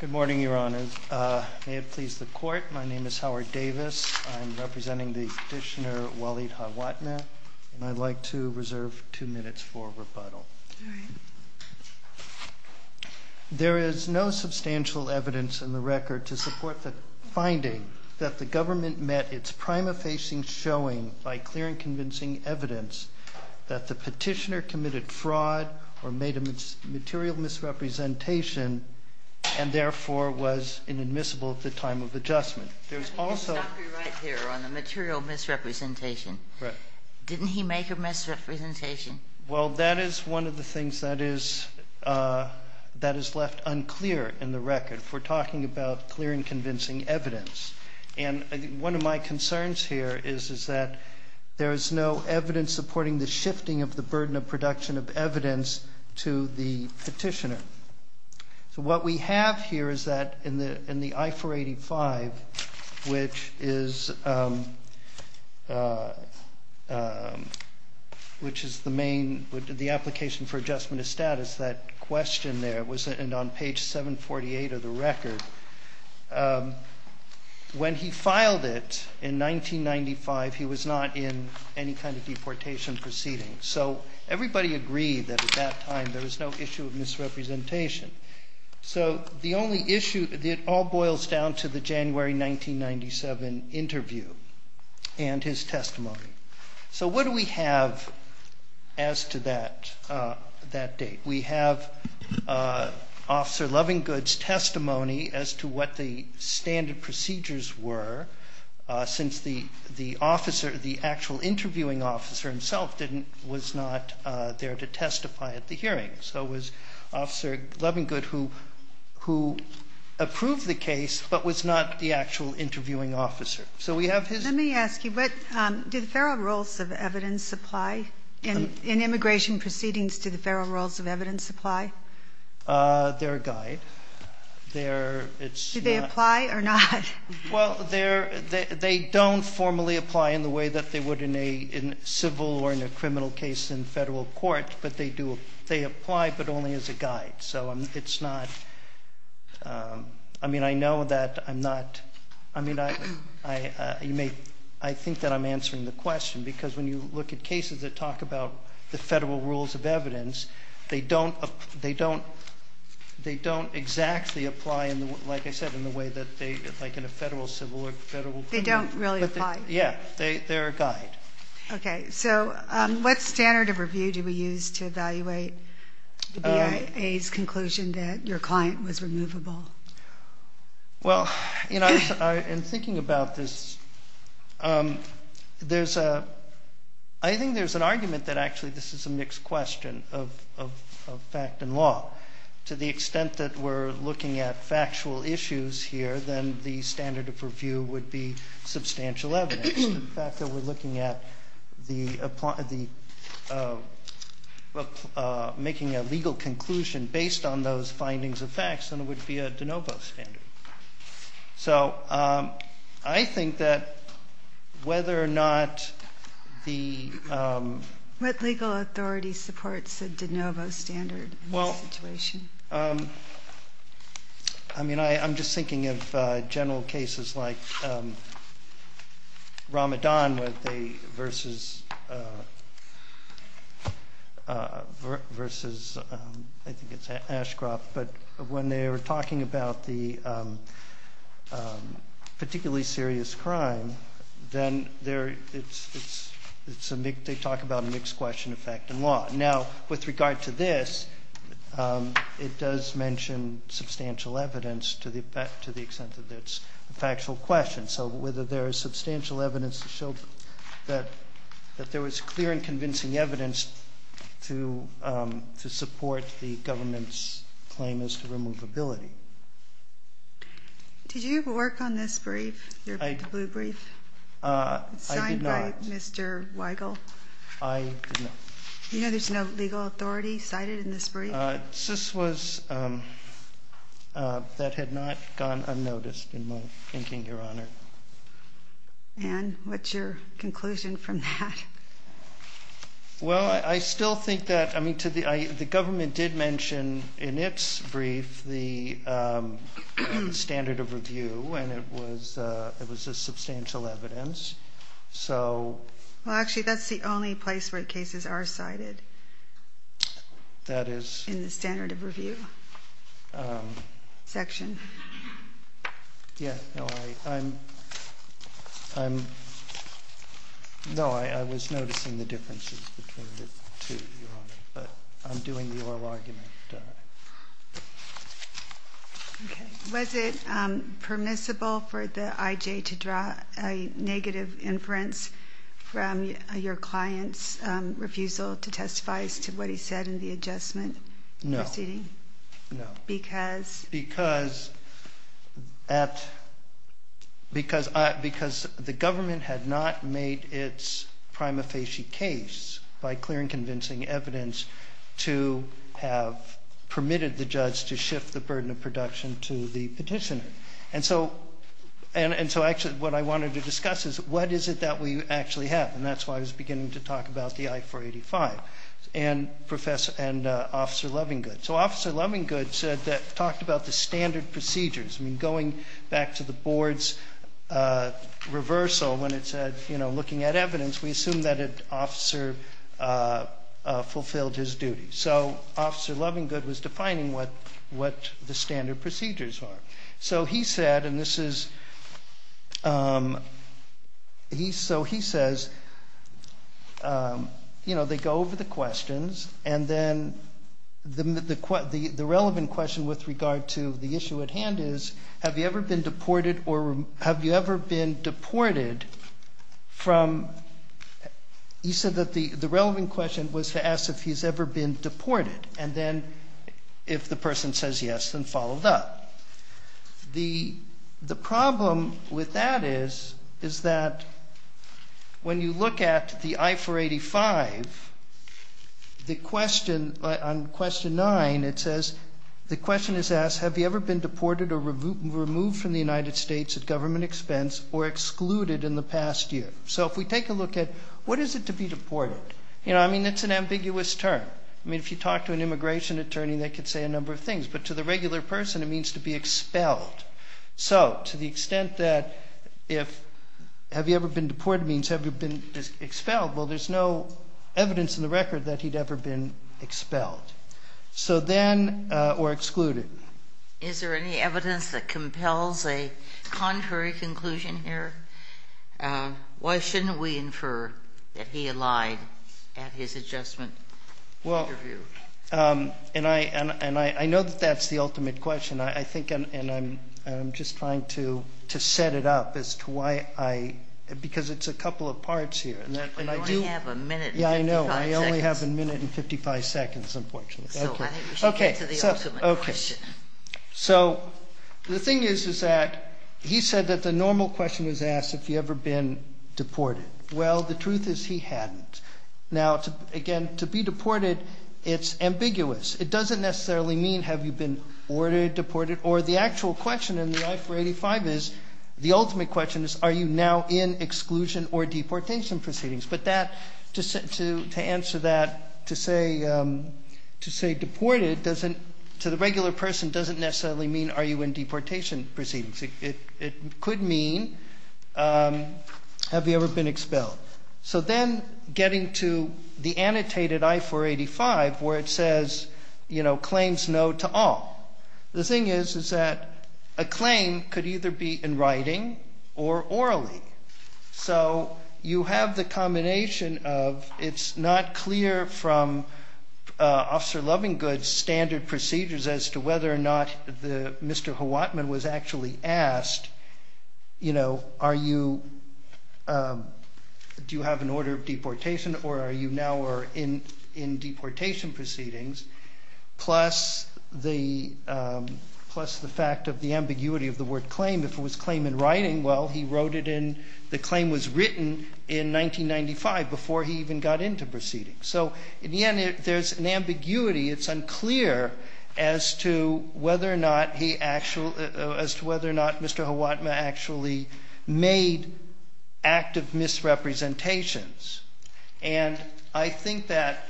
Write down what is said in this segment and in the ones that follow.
Good morning, Your Honor. May it please the Court, my name is Howard Davis. I'm representing the petitioner Walid Hawatmeh, and I'd like to reserve two minutes for rebuttal. There is no substantial evidence in the record to support the finding that the government met its prima facie showing by clear and convincing evidence that the petitioner committed fraud or made a material misrepresentation and therefore was inadmissible at the time of adjustment. There's also... Stop your right here on the material misrepresentation. Didn't he make a misrepresentation? Well, that is one of the things that is that is left unclear in the record. We're talking about clear and convincing evidence, and one of my concerns here is is that there is no evidence supporting the shifting of the petitioner. So what we have here is that in the I-485, which is the main, the application for adjustment of status, that question there was on page 748 of the record. When he filed it in 1995, he was not in any kind of deportation proceedings. So everybody agreed that at that time there was no issue of misrepresentation. So the only issue, it all boils down to the January 1997 interview and his testimony. So what do we have as to that date? We have Officer Lovingood's testimony as to what the standard procedures were since the officer, the actual interviewing officer himself, was not there to interview. It was Officer Lovingood who approved the case but was not the actual interviewing officer. So we have his... Let me ask you, do the federal rules of evidence apply in immigration proceedings? Do the federal rules of evidence apply? They're a guide. Do they apply or not? Well, they don't formally apply in the way that they would in a civil or in a criminal case in federal court, but they do, they apply but only as a guide. So it's not, I mean, I know that I'm not, I mean, you may, I think that I'm answering the question because when you look at cases that talk about the federal rules of evidence, they don't, they don't, they don't exactly apply in the, like I said, in the way that they, like in a federal civil or federal... They don't really apply? Yeah, they're a guide. Okay, so what standard of review do we use to evaluate the BIA's conclusion that your client was removable? Well, you know, in thinking about this, there's a, I think there's an argument that actually this is a mixed question of fact and law. To the extent that we're looking at factual issues here, then the standard of review would be substantial evidence. The fact that we're looking at the, making a legal conclusion based on those findings of facts, then it would be a de novo standard. So I think that whether or not the... What legal authority supports a de novo standard in this situation? Well, I mean, I'm just thinking of general cases like Ramadan where they versus, versus, I think it's Ashcroft, but when they were talking about the particularly serious crime, then they're, it's, it's, it's a big, they talk about a mixed question of fact and law. Now, with regard to this, it does mention substantial evidence to the, to the extent that it's a factual question. So whether there is substantial evidence to show that, that there was clear and convincing evidence to, to support the government's claim as to removability. Did you work on this brief, your blue brief? I did not. Signed by Mr. Weigel? I did not. You know there's no legal authority cited in this brief? This was, that had not gone unnoticed in my thinking, Your Honor. And what's your conclusion from that? Well, I still think that, I mean, to the, I, the government did mention in its brief the standard of review and it was, it was a substantial evidence. So... Well, actually that's the only place where cases are cited. That is? In the standard of review section. Yeah, no, I, I'm, I'm, no, I, I was noticing the differences between the two, Your Honor, but I'm doing the oral argument. Okay. Was it permissible for the IJ to draw a negative inference from your client's refusal to testify as to what he said in the adjustment proceeding? No, no. Because? Because at, because I, because the government had not made its prima facie case by clear and convincing evidence to have permitted the judge to shift the burden of production to the petitioner. And so, and, and so actually what I wanted to discuss is what is it that we actually have? And that's why I was beginning to talk about the I-485 and Professor, and Officer Lovingood. So Officer Lovingood said that, talked about the standard procedures. I mean, going back to the board's reversal when it said, you know, looking at evidence, we assume that an officer fulfilled his duty. So Officer Lovingood was defining what, what the standard procedures are. So he said, and this is, he, so he says, you know, they go over the questions and then the, the, the relevant question with regard to the issue at hand is, have you ever been deported or have you ever been deported from, he said that the, the relevant question was to ask if he's ever been deported. And then, if the person says yes, then followed up. The, the problem with that is, is that when you look at the I-485, the question on question nine, it says, the question is asked, have you ever been deported or removed from the United States at government expense or excluded in the past year? So if we take a look at what is it to be deported? You know, I mean, it's an ambiguous term. I mean, if you talk to an immigration attorney, they could say a number of things, but to the regular person, it means to be expelled. So to the extent that if, have you ever been deported means have you been expelled? Well, there's no evidence in the record that he'd ever been expelled. So then, or excluded. Is there any evidence that compels a contrary conclusion here? Why shouldn't we infer that he lied at his adjustment interview? Well, and I, and I know that that's the ultimate question. I think, and I'm just trying to set it up as to why I, because it's a couple of parts here. And I do have a minute. Yeah, I know. I only have a minute and 55 seconds, unfortunately. Okay. So the thing is, is that he said that the normal question was asked, have you ever been deported? Well, the truth is he hadn't. Now, again, to be deported, it's ambiguous. It doesn't necessarily mean have you been ordered, deported, or the actual question in the I-485 is, the ultimate question is, are you now in exclusion or deportation proceedings? But that, to, to answer that, to say, to say deported doesn't, to the regular person doesn't necessarily mean are you in deportation proceedings? It, it could mean, um, have you ever been expelled? So then getting to the annotated I-485 where it says, you know, claims no to all. The thing is, is that a claim could either be in writing or orally. So you have the combination of, it's not clear from, uh, Officer Lovingood's standard procedures as to whether or not the Mr. Hawatman was actually asked, you know, are you, um, do you have an order of deportation or are you now, or in, in deportation proceedings? Plus the, um, plus the fact of the ambiguity of the word claim. If it was claim in writing, well, he wrote it in, the claim was written in 1995 before he even got into proceedings. So in the end, there's an ambiguity. It's unclear as to whether or not Mr. Hawatman actually made active misrepresentations. And I think that,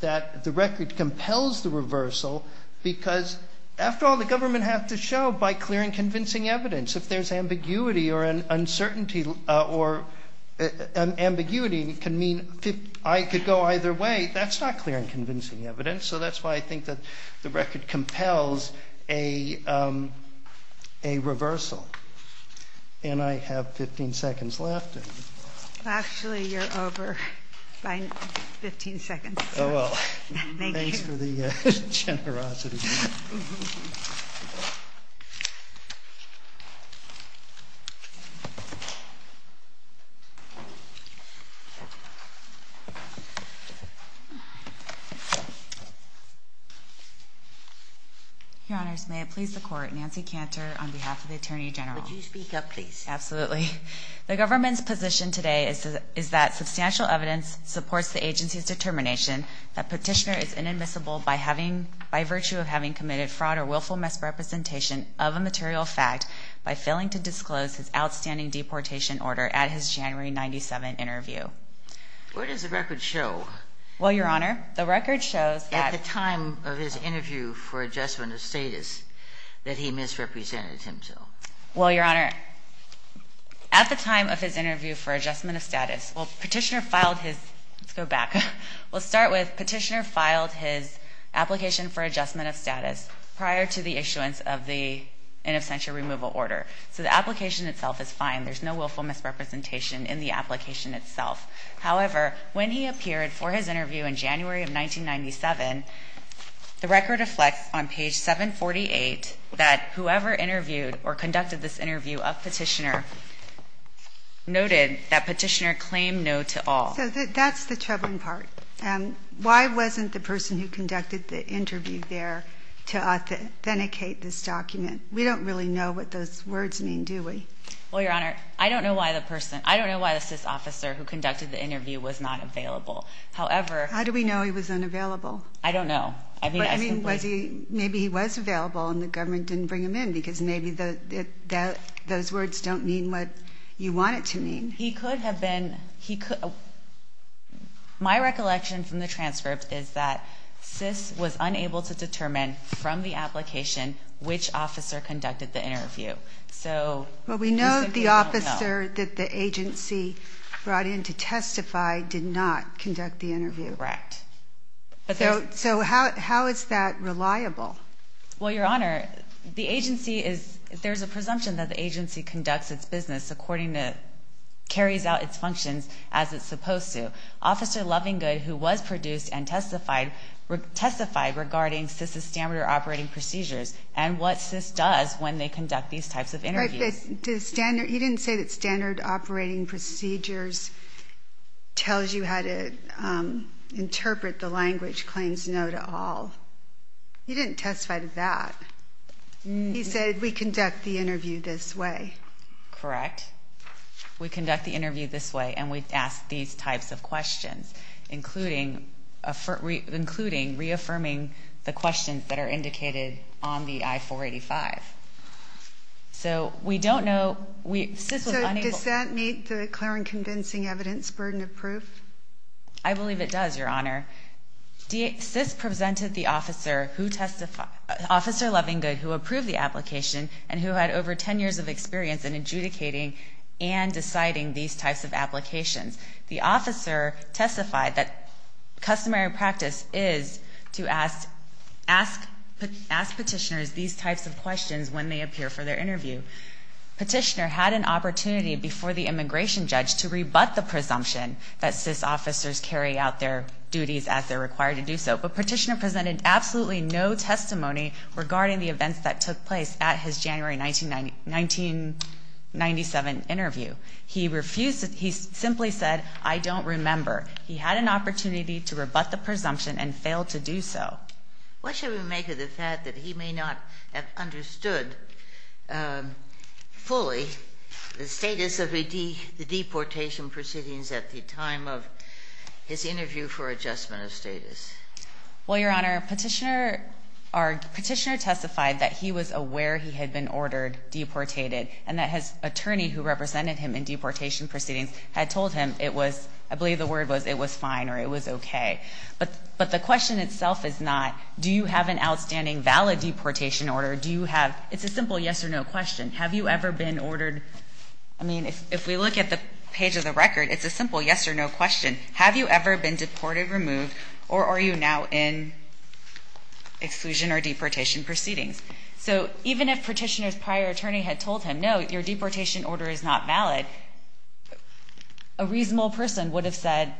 that the record compels the reversal because after all, the government have to show by clear and convincing evidence. If there's ambiguity or an uncertainty or an ambiguity, it can mean I could go either way. That's not clear and um, a reversal. And I have 15 seconds left. Actually, you're over by 15 seconds. Oh, well, thanks for the generosity. Your honors. May it please the court. Nancy Cantor on behalf of the attorney general. Would you speak up please? Absolutely. The government's position today is that substantial evidence supports the agency's determination that having committed fraud or willful misrepresentation of a material fact by failing to disclose his outstanding deportation order at his January 97 interview. Where does the record show? Well, your honor, the record shows at the time of his interview for adjustment of status that he misrepresented himself. Well, your honor, at the time of his interview for adjustment of status, well, petitioner filed his, let's go back. We'll start with petitioner filed his application for adjustment of status prior to the issuance of the in absentia removal order. So the application itself is fine. There's no willful misrepresentation in the application itself. However, when he appeared for his interview in January of 1997, the record reflects on page 748 that whoever interviewed or conducted this interview of petitioner noted that petitioner claimed no to all. So that's the troubling part. And why wasn't the person who conducted the interview there to authenticate this document? We don't really know what those words mean, do we? Well, your honor, I don't know why the person, I don't know why this officer who conducted the interview was not available. However, how do we know he was unavailable? I don't know. I mean, I mean, was he maybe he was available and the government didn't bring him in because maybe the that those words don't mean what you want it to mean. He could have been. He could. My recollection from the transcript is that SIS was unable to determine from the application which officer conducted the interview. So we know the officer that the agency brought in to testify did not conduct the interview. Correct. So how is that reliable? Well, your honor, the agency is there's a presumption that the agency conducts its business according to carries out its functions as it's supposed to. Officer Lovingood, who was produced and testified, testified regarding SIS's standard operating procedures and what SIS does when they conduct these types of interviews. You didn't say that standard operating procedures tells you how to interpret the language claims no to all. You didn't testify to that. He said we conduct the interview this way. Correct. We conduct the interview this way and we ask these types of questions, including including reaffirming the questions that are indicated on the I-485. So we don't know. So does that meet the clear and convincing evidence burden of proof? I believe it does, your honor. SIS presented the officer who testified, Officer Lovingood, who approved the application and who had over 10 years of experience in adjudicating and deciding these types of applications. The officer testified that customary practice is to ask petitioners these types of questions when they appear for their interview. Petitioner had an opportunity before the immigration judge to rebut the presumption that SIS officers carry out their duties as they're required to do so, but petitioner presented absolutely no testimony regarding the events that took place at his January 1997 interview. He refused. He simply said, I don't remember. He had an opportunity to rebut the presumption and failed to do so. What should we make of the fact that he may not have understood, um, fully the status of the deportation proceedings at the time of his interview for adjustment of status? Well, your our petitioner testified that he was aware he had been ordered, deported and that his attorney who represented him in deportation proceedings had told him it was, I believe the word was it was fine or it was okay. But, but the question itself is not, do you have an outstanding valid deportation order? Do you have? It's a simple yes or no question. Have you ever been ordered? I mean, if we look at the page of the record, it's a simple yes or no question. Have you ever been deported, removed or are you now in exclusion or deportation proceedings? So even if petitioner's prior attorney had told him no, your deportation order is not valid, a reasonable person would have said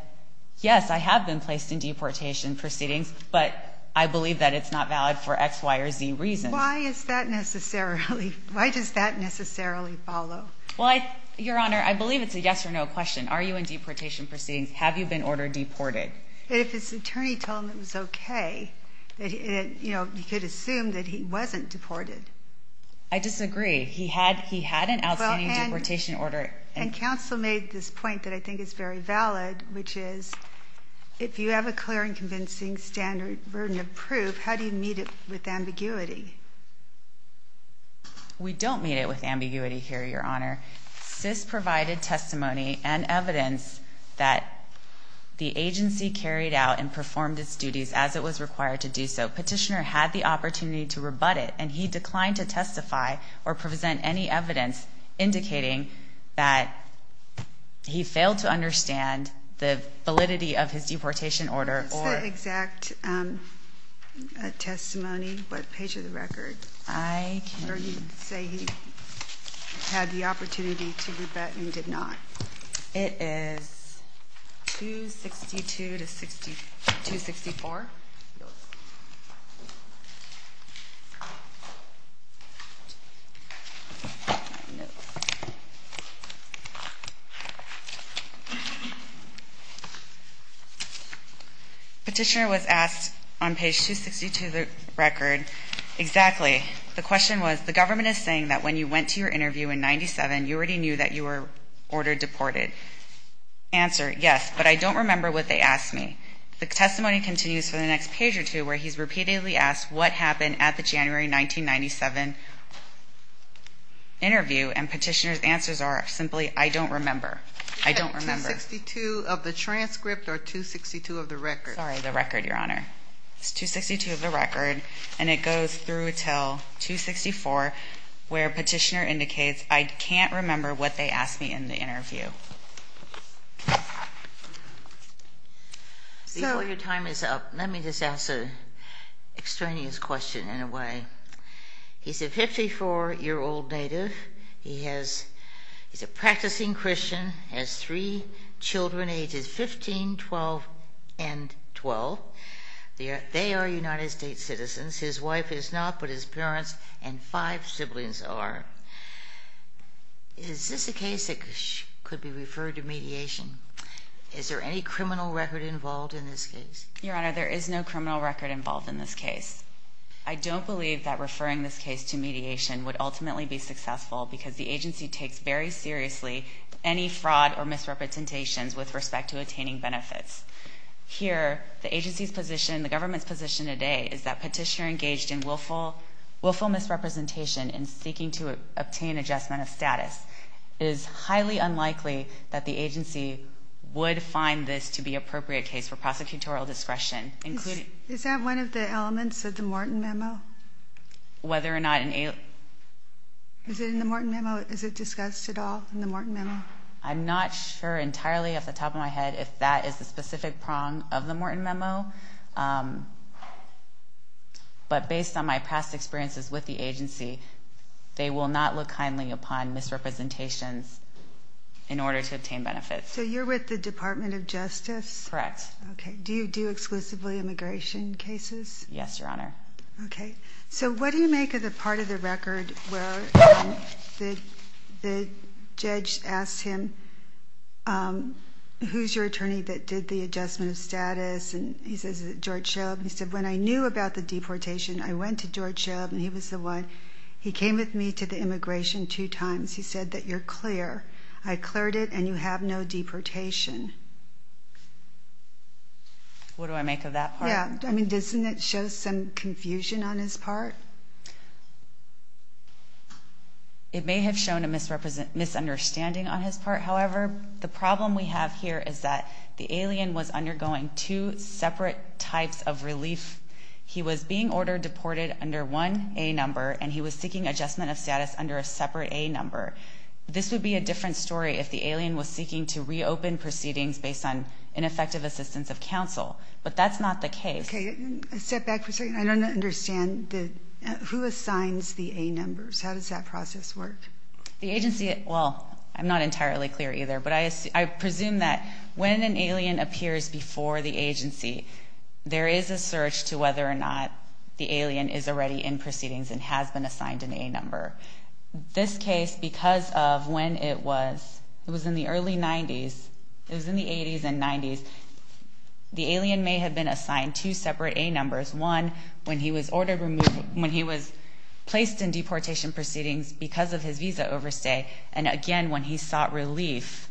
yes, I have been placed in deportation proceedings, but I believe that it's not valid for X, Y or Z reason. Why is that necessarily? Why does that necessarily follow? Well, your honor, I believe it's a yes or no question. Are you in have you been ordered deported? If his attorney told him it was okay, you know, you could assume that he wasn't deported. I disagree. He had, he had an outstanding deportation order and counsel made this point that I think is very valid, which is if you have a clear and convincing standard burden of proof, how do you meet it with ambiguity? We don't meet it with ambiguity here. Your honor, sis provided testimony and the agency carried out and performed its duties as it was required to do so. Petitioner had the opportunity to rebut it and he declined to testify or present any evidence indicating that he failed to understand the validity of his deportation order or exact testimony. What page of the record? I say he had the opportunity to rebut and did not. It is 2 62 to 60 to 64. Petitioner was asked on page 2 62 the record. Exactly. The question was, the government is saying that when you went to your interview in 97, you already knew that you were ordered deported answer. Yes, but I don't remember what they asked me. The testimony continues for the next page or two where he's repeatedly asked what happened at the January 1997 interview and petitioner's answers are simply, I don't remember. I don't remember 62 of the transcript or 2 62 of the record. Sorry, the record. Your honor, it's 2 62 of the record and it goes through until 2 64 where petitioner indicates I can't remember what they asked me in the interview. So your time is up. Let me just ask a extraneous question in a way. He's a 54 year old native. He has, he's a practicing Christian, has three Children ages 15 12 and 12. They are United States citizens. His wife is not, but his parents and five siblings are. Is this a case that could be referred to mediation? Is there any criminal record involved in this case? Your honor, there is no criminal record involved in this case. I don't believe that referring this case to mediation would ultimately be successful because the agency takes very seriously any fraud or misrepresentations with respect to attaining benefits here. The agency's position, the government's position today is that petitioner willful willful misrepresentation and seeking to obtain adjustment of status is highly unlikely that the agency would find this to be appropriate case for prosecutorial discretion, including is that one of the elements of the Morton memo? Whether or not in a is it in the Morton memo? Is it discussed at all in the Morton memo? I'm not sure entirely off the top of my head if that is the specific prong of the Morton memo. Um, but based on my past experiences with the agency, they will not look kindly upon misrepresentations in order to obtain benefits. So you're with the Department of Justice? Correct. Okay. Do you do exclusively immigration cases? Yes, Your Honor. Okay. So what do you make of the part of the record where the the judge asked him, um, who's your attorney that did the adjustment of status? And he says that he said when I knew about the deportation, I went to George show up and he was the one. He came with me to the immigration two times. He said that you're clear. I cleared it and you have no deportation. What do I make of that? Yeah, I mean, doesn't it show some confusion on his part? It may have shown a misrepresent misunderstanding on his part. However, the problem we have here is that the alien was undergoing two separate types of relief. He was being ordered deported under one a number, and he was seeking adjustment of status under a separate a number. This would be a different story if the alien was seeking to reopen proceedings based on ineffective assistance of counsel. But that's not the case. Okay, step back for a second. I don't understand who assigns the a numbers. How does that process work? The But I I presume that when an alien appears before the agency, there is a search to whether or not the alien is already in proceedings and has been assigned in a number this case because of when it was. It was in the early nineties. It was in the eighties and nineties. The alien may have been assigned to separate a numbers one when he was ordered removed when he was placed in deportation proceedings because of his visa overstay. And again, when he sought relief,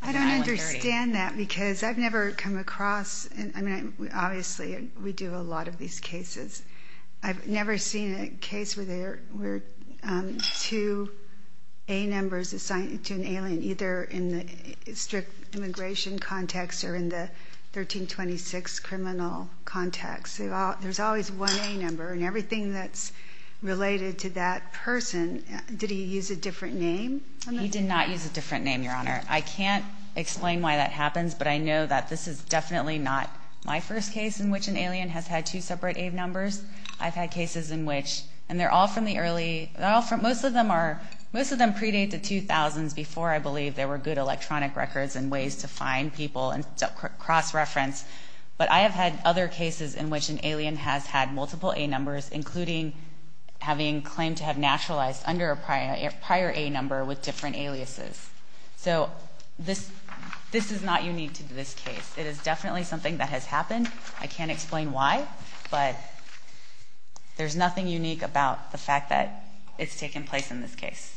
I don't understand that because I've never come across. I mean, obviously we do a lot of these cases. I've never seen a case where there were two a numbers assigned to an alien, either in the strict immigration context or in the 13 26 criminal context. There's always one a number and everything that's related to that person. Did he use a different name? He did not use a different name, Your Honor. I can't explain why that happens, but I know that this is definitely not my first case in which an alien has had two separate aid numbers. I've had cases in which and they're all from the early offer. Most of them are. Most of them predate the two thousands before. I believe there were good electronic records and ways to find people and cross reference. But I have had other cases in which an alien has had multiple a numbers, including having claimed to have naturalized under a prior prior a number with different aliases. So this this is not unique to this case. It is definitely something that has happened. I can't explain why, but there's nothing unique about the fact that it's taken place in this case.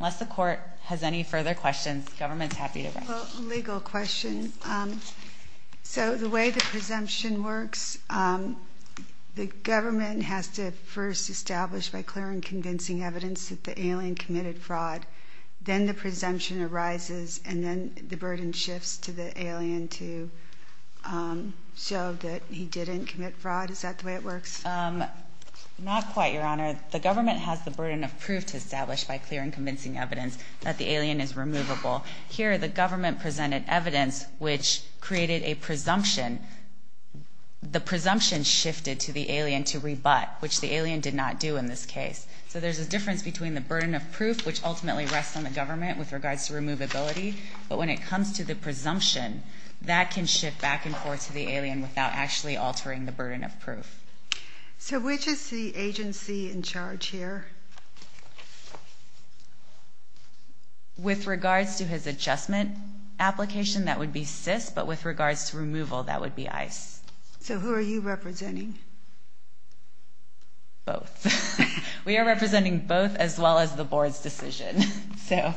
Unless the court has any further questions, government's happy to go legal question. Um, so the way the presumption works, um, the government has to first established by clear and convincing evidence that the alien committed fraud. Then the presumption arises, and then the burden shifts to the alien to, um, show that he didn't commit fraud. Is that the way it works? Um, not quite, Your Honor. The government has the burden of proof to establish by clear and convincing evidence that the alien is removable. Here, the government presented evidence which created a presumption. The presumption shifted to the alien to rebut, which the alien did not do in this case. So there's a difference between the burden of proof, which ultimately rests on the government with regards to removability. But when it comes to the presumption that can shift back and forth to the alien without actually altering the burden of proof. So which is the agency in charge here with regards to his adjustment application? That would be sis. But with regards to removal, that would be ice. So who are you representing? Both. We are representing both as well as the board's decision. So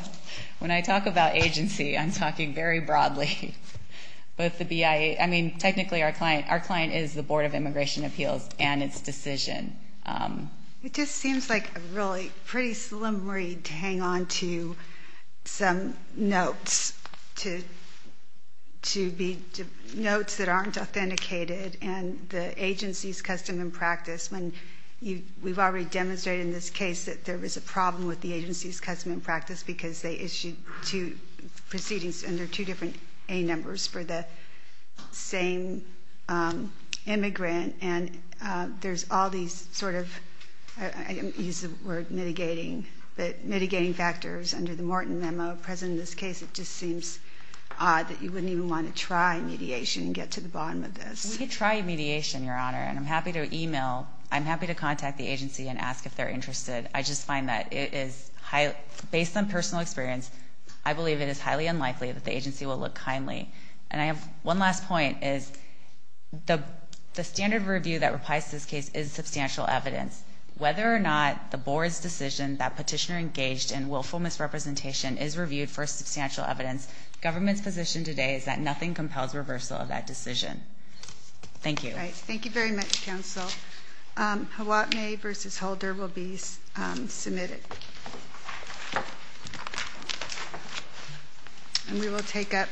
when I talk about agency, I'm talking very broadly. But the B I. I mean, technically, our client, our client is the Board of Immigration Appeals and its decision. Um, it just seems like a really pretty slim read. Hang on to some notes to to be notes that aren't authenticated and the agency's custom and practice when we've already demonstrated in this case that there was a problem with the agency's custom and practice because they issued two proceedings under two different a numbers for the same immigrant. And there's all these sort I use the word mitigating mitigating factors under the Morton memo present in this case. It just seems odd that you wouldn't even want to try mediation and get to the bottom of this. Try mediation, Your Honor. And I'm happy to email. I'm happy to contact the agency and ask if they're interested. I just find that it is based on personal experience. I believe it is highly unlikely that the agency will look kindly. And I have one last point is the standard review that replies. This case is substantial evidence whether or not the board's decision that petitioner engaged in willful misrepresentation is reviewed for substantial evidence. Government's position today is that nothing compels reversal of that decision. Thank you. Thank you very much. Council. Um, what neighbors is holder will be submitted and we will take up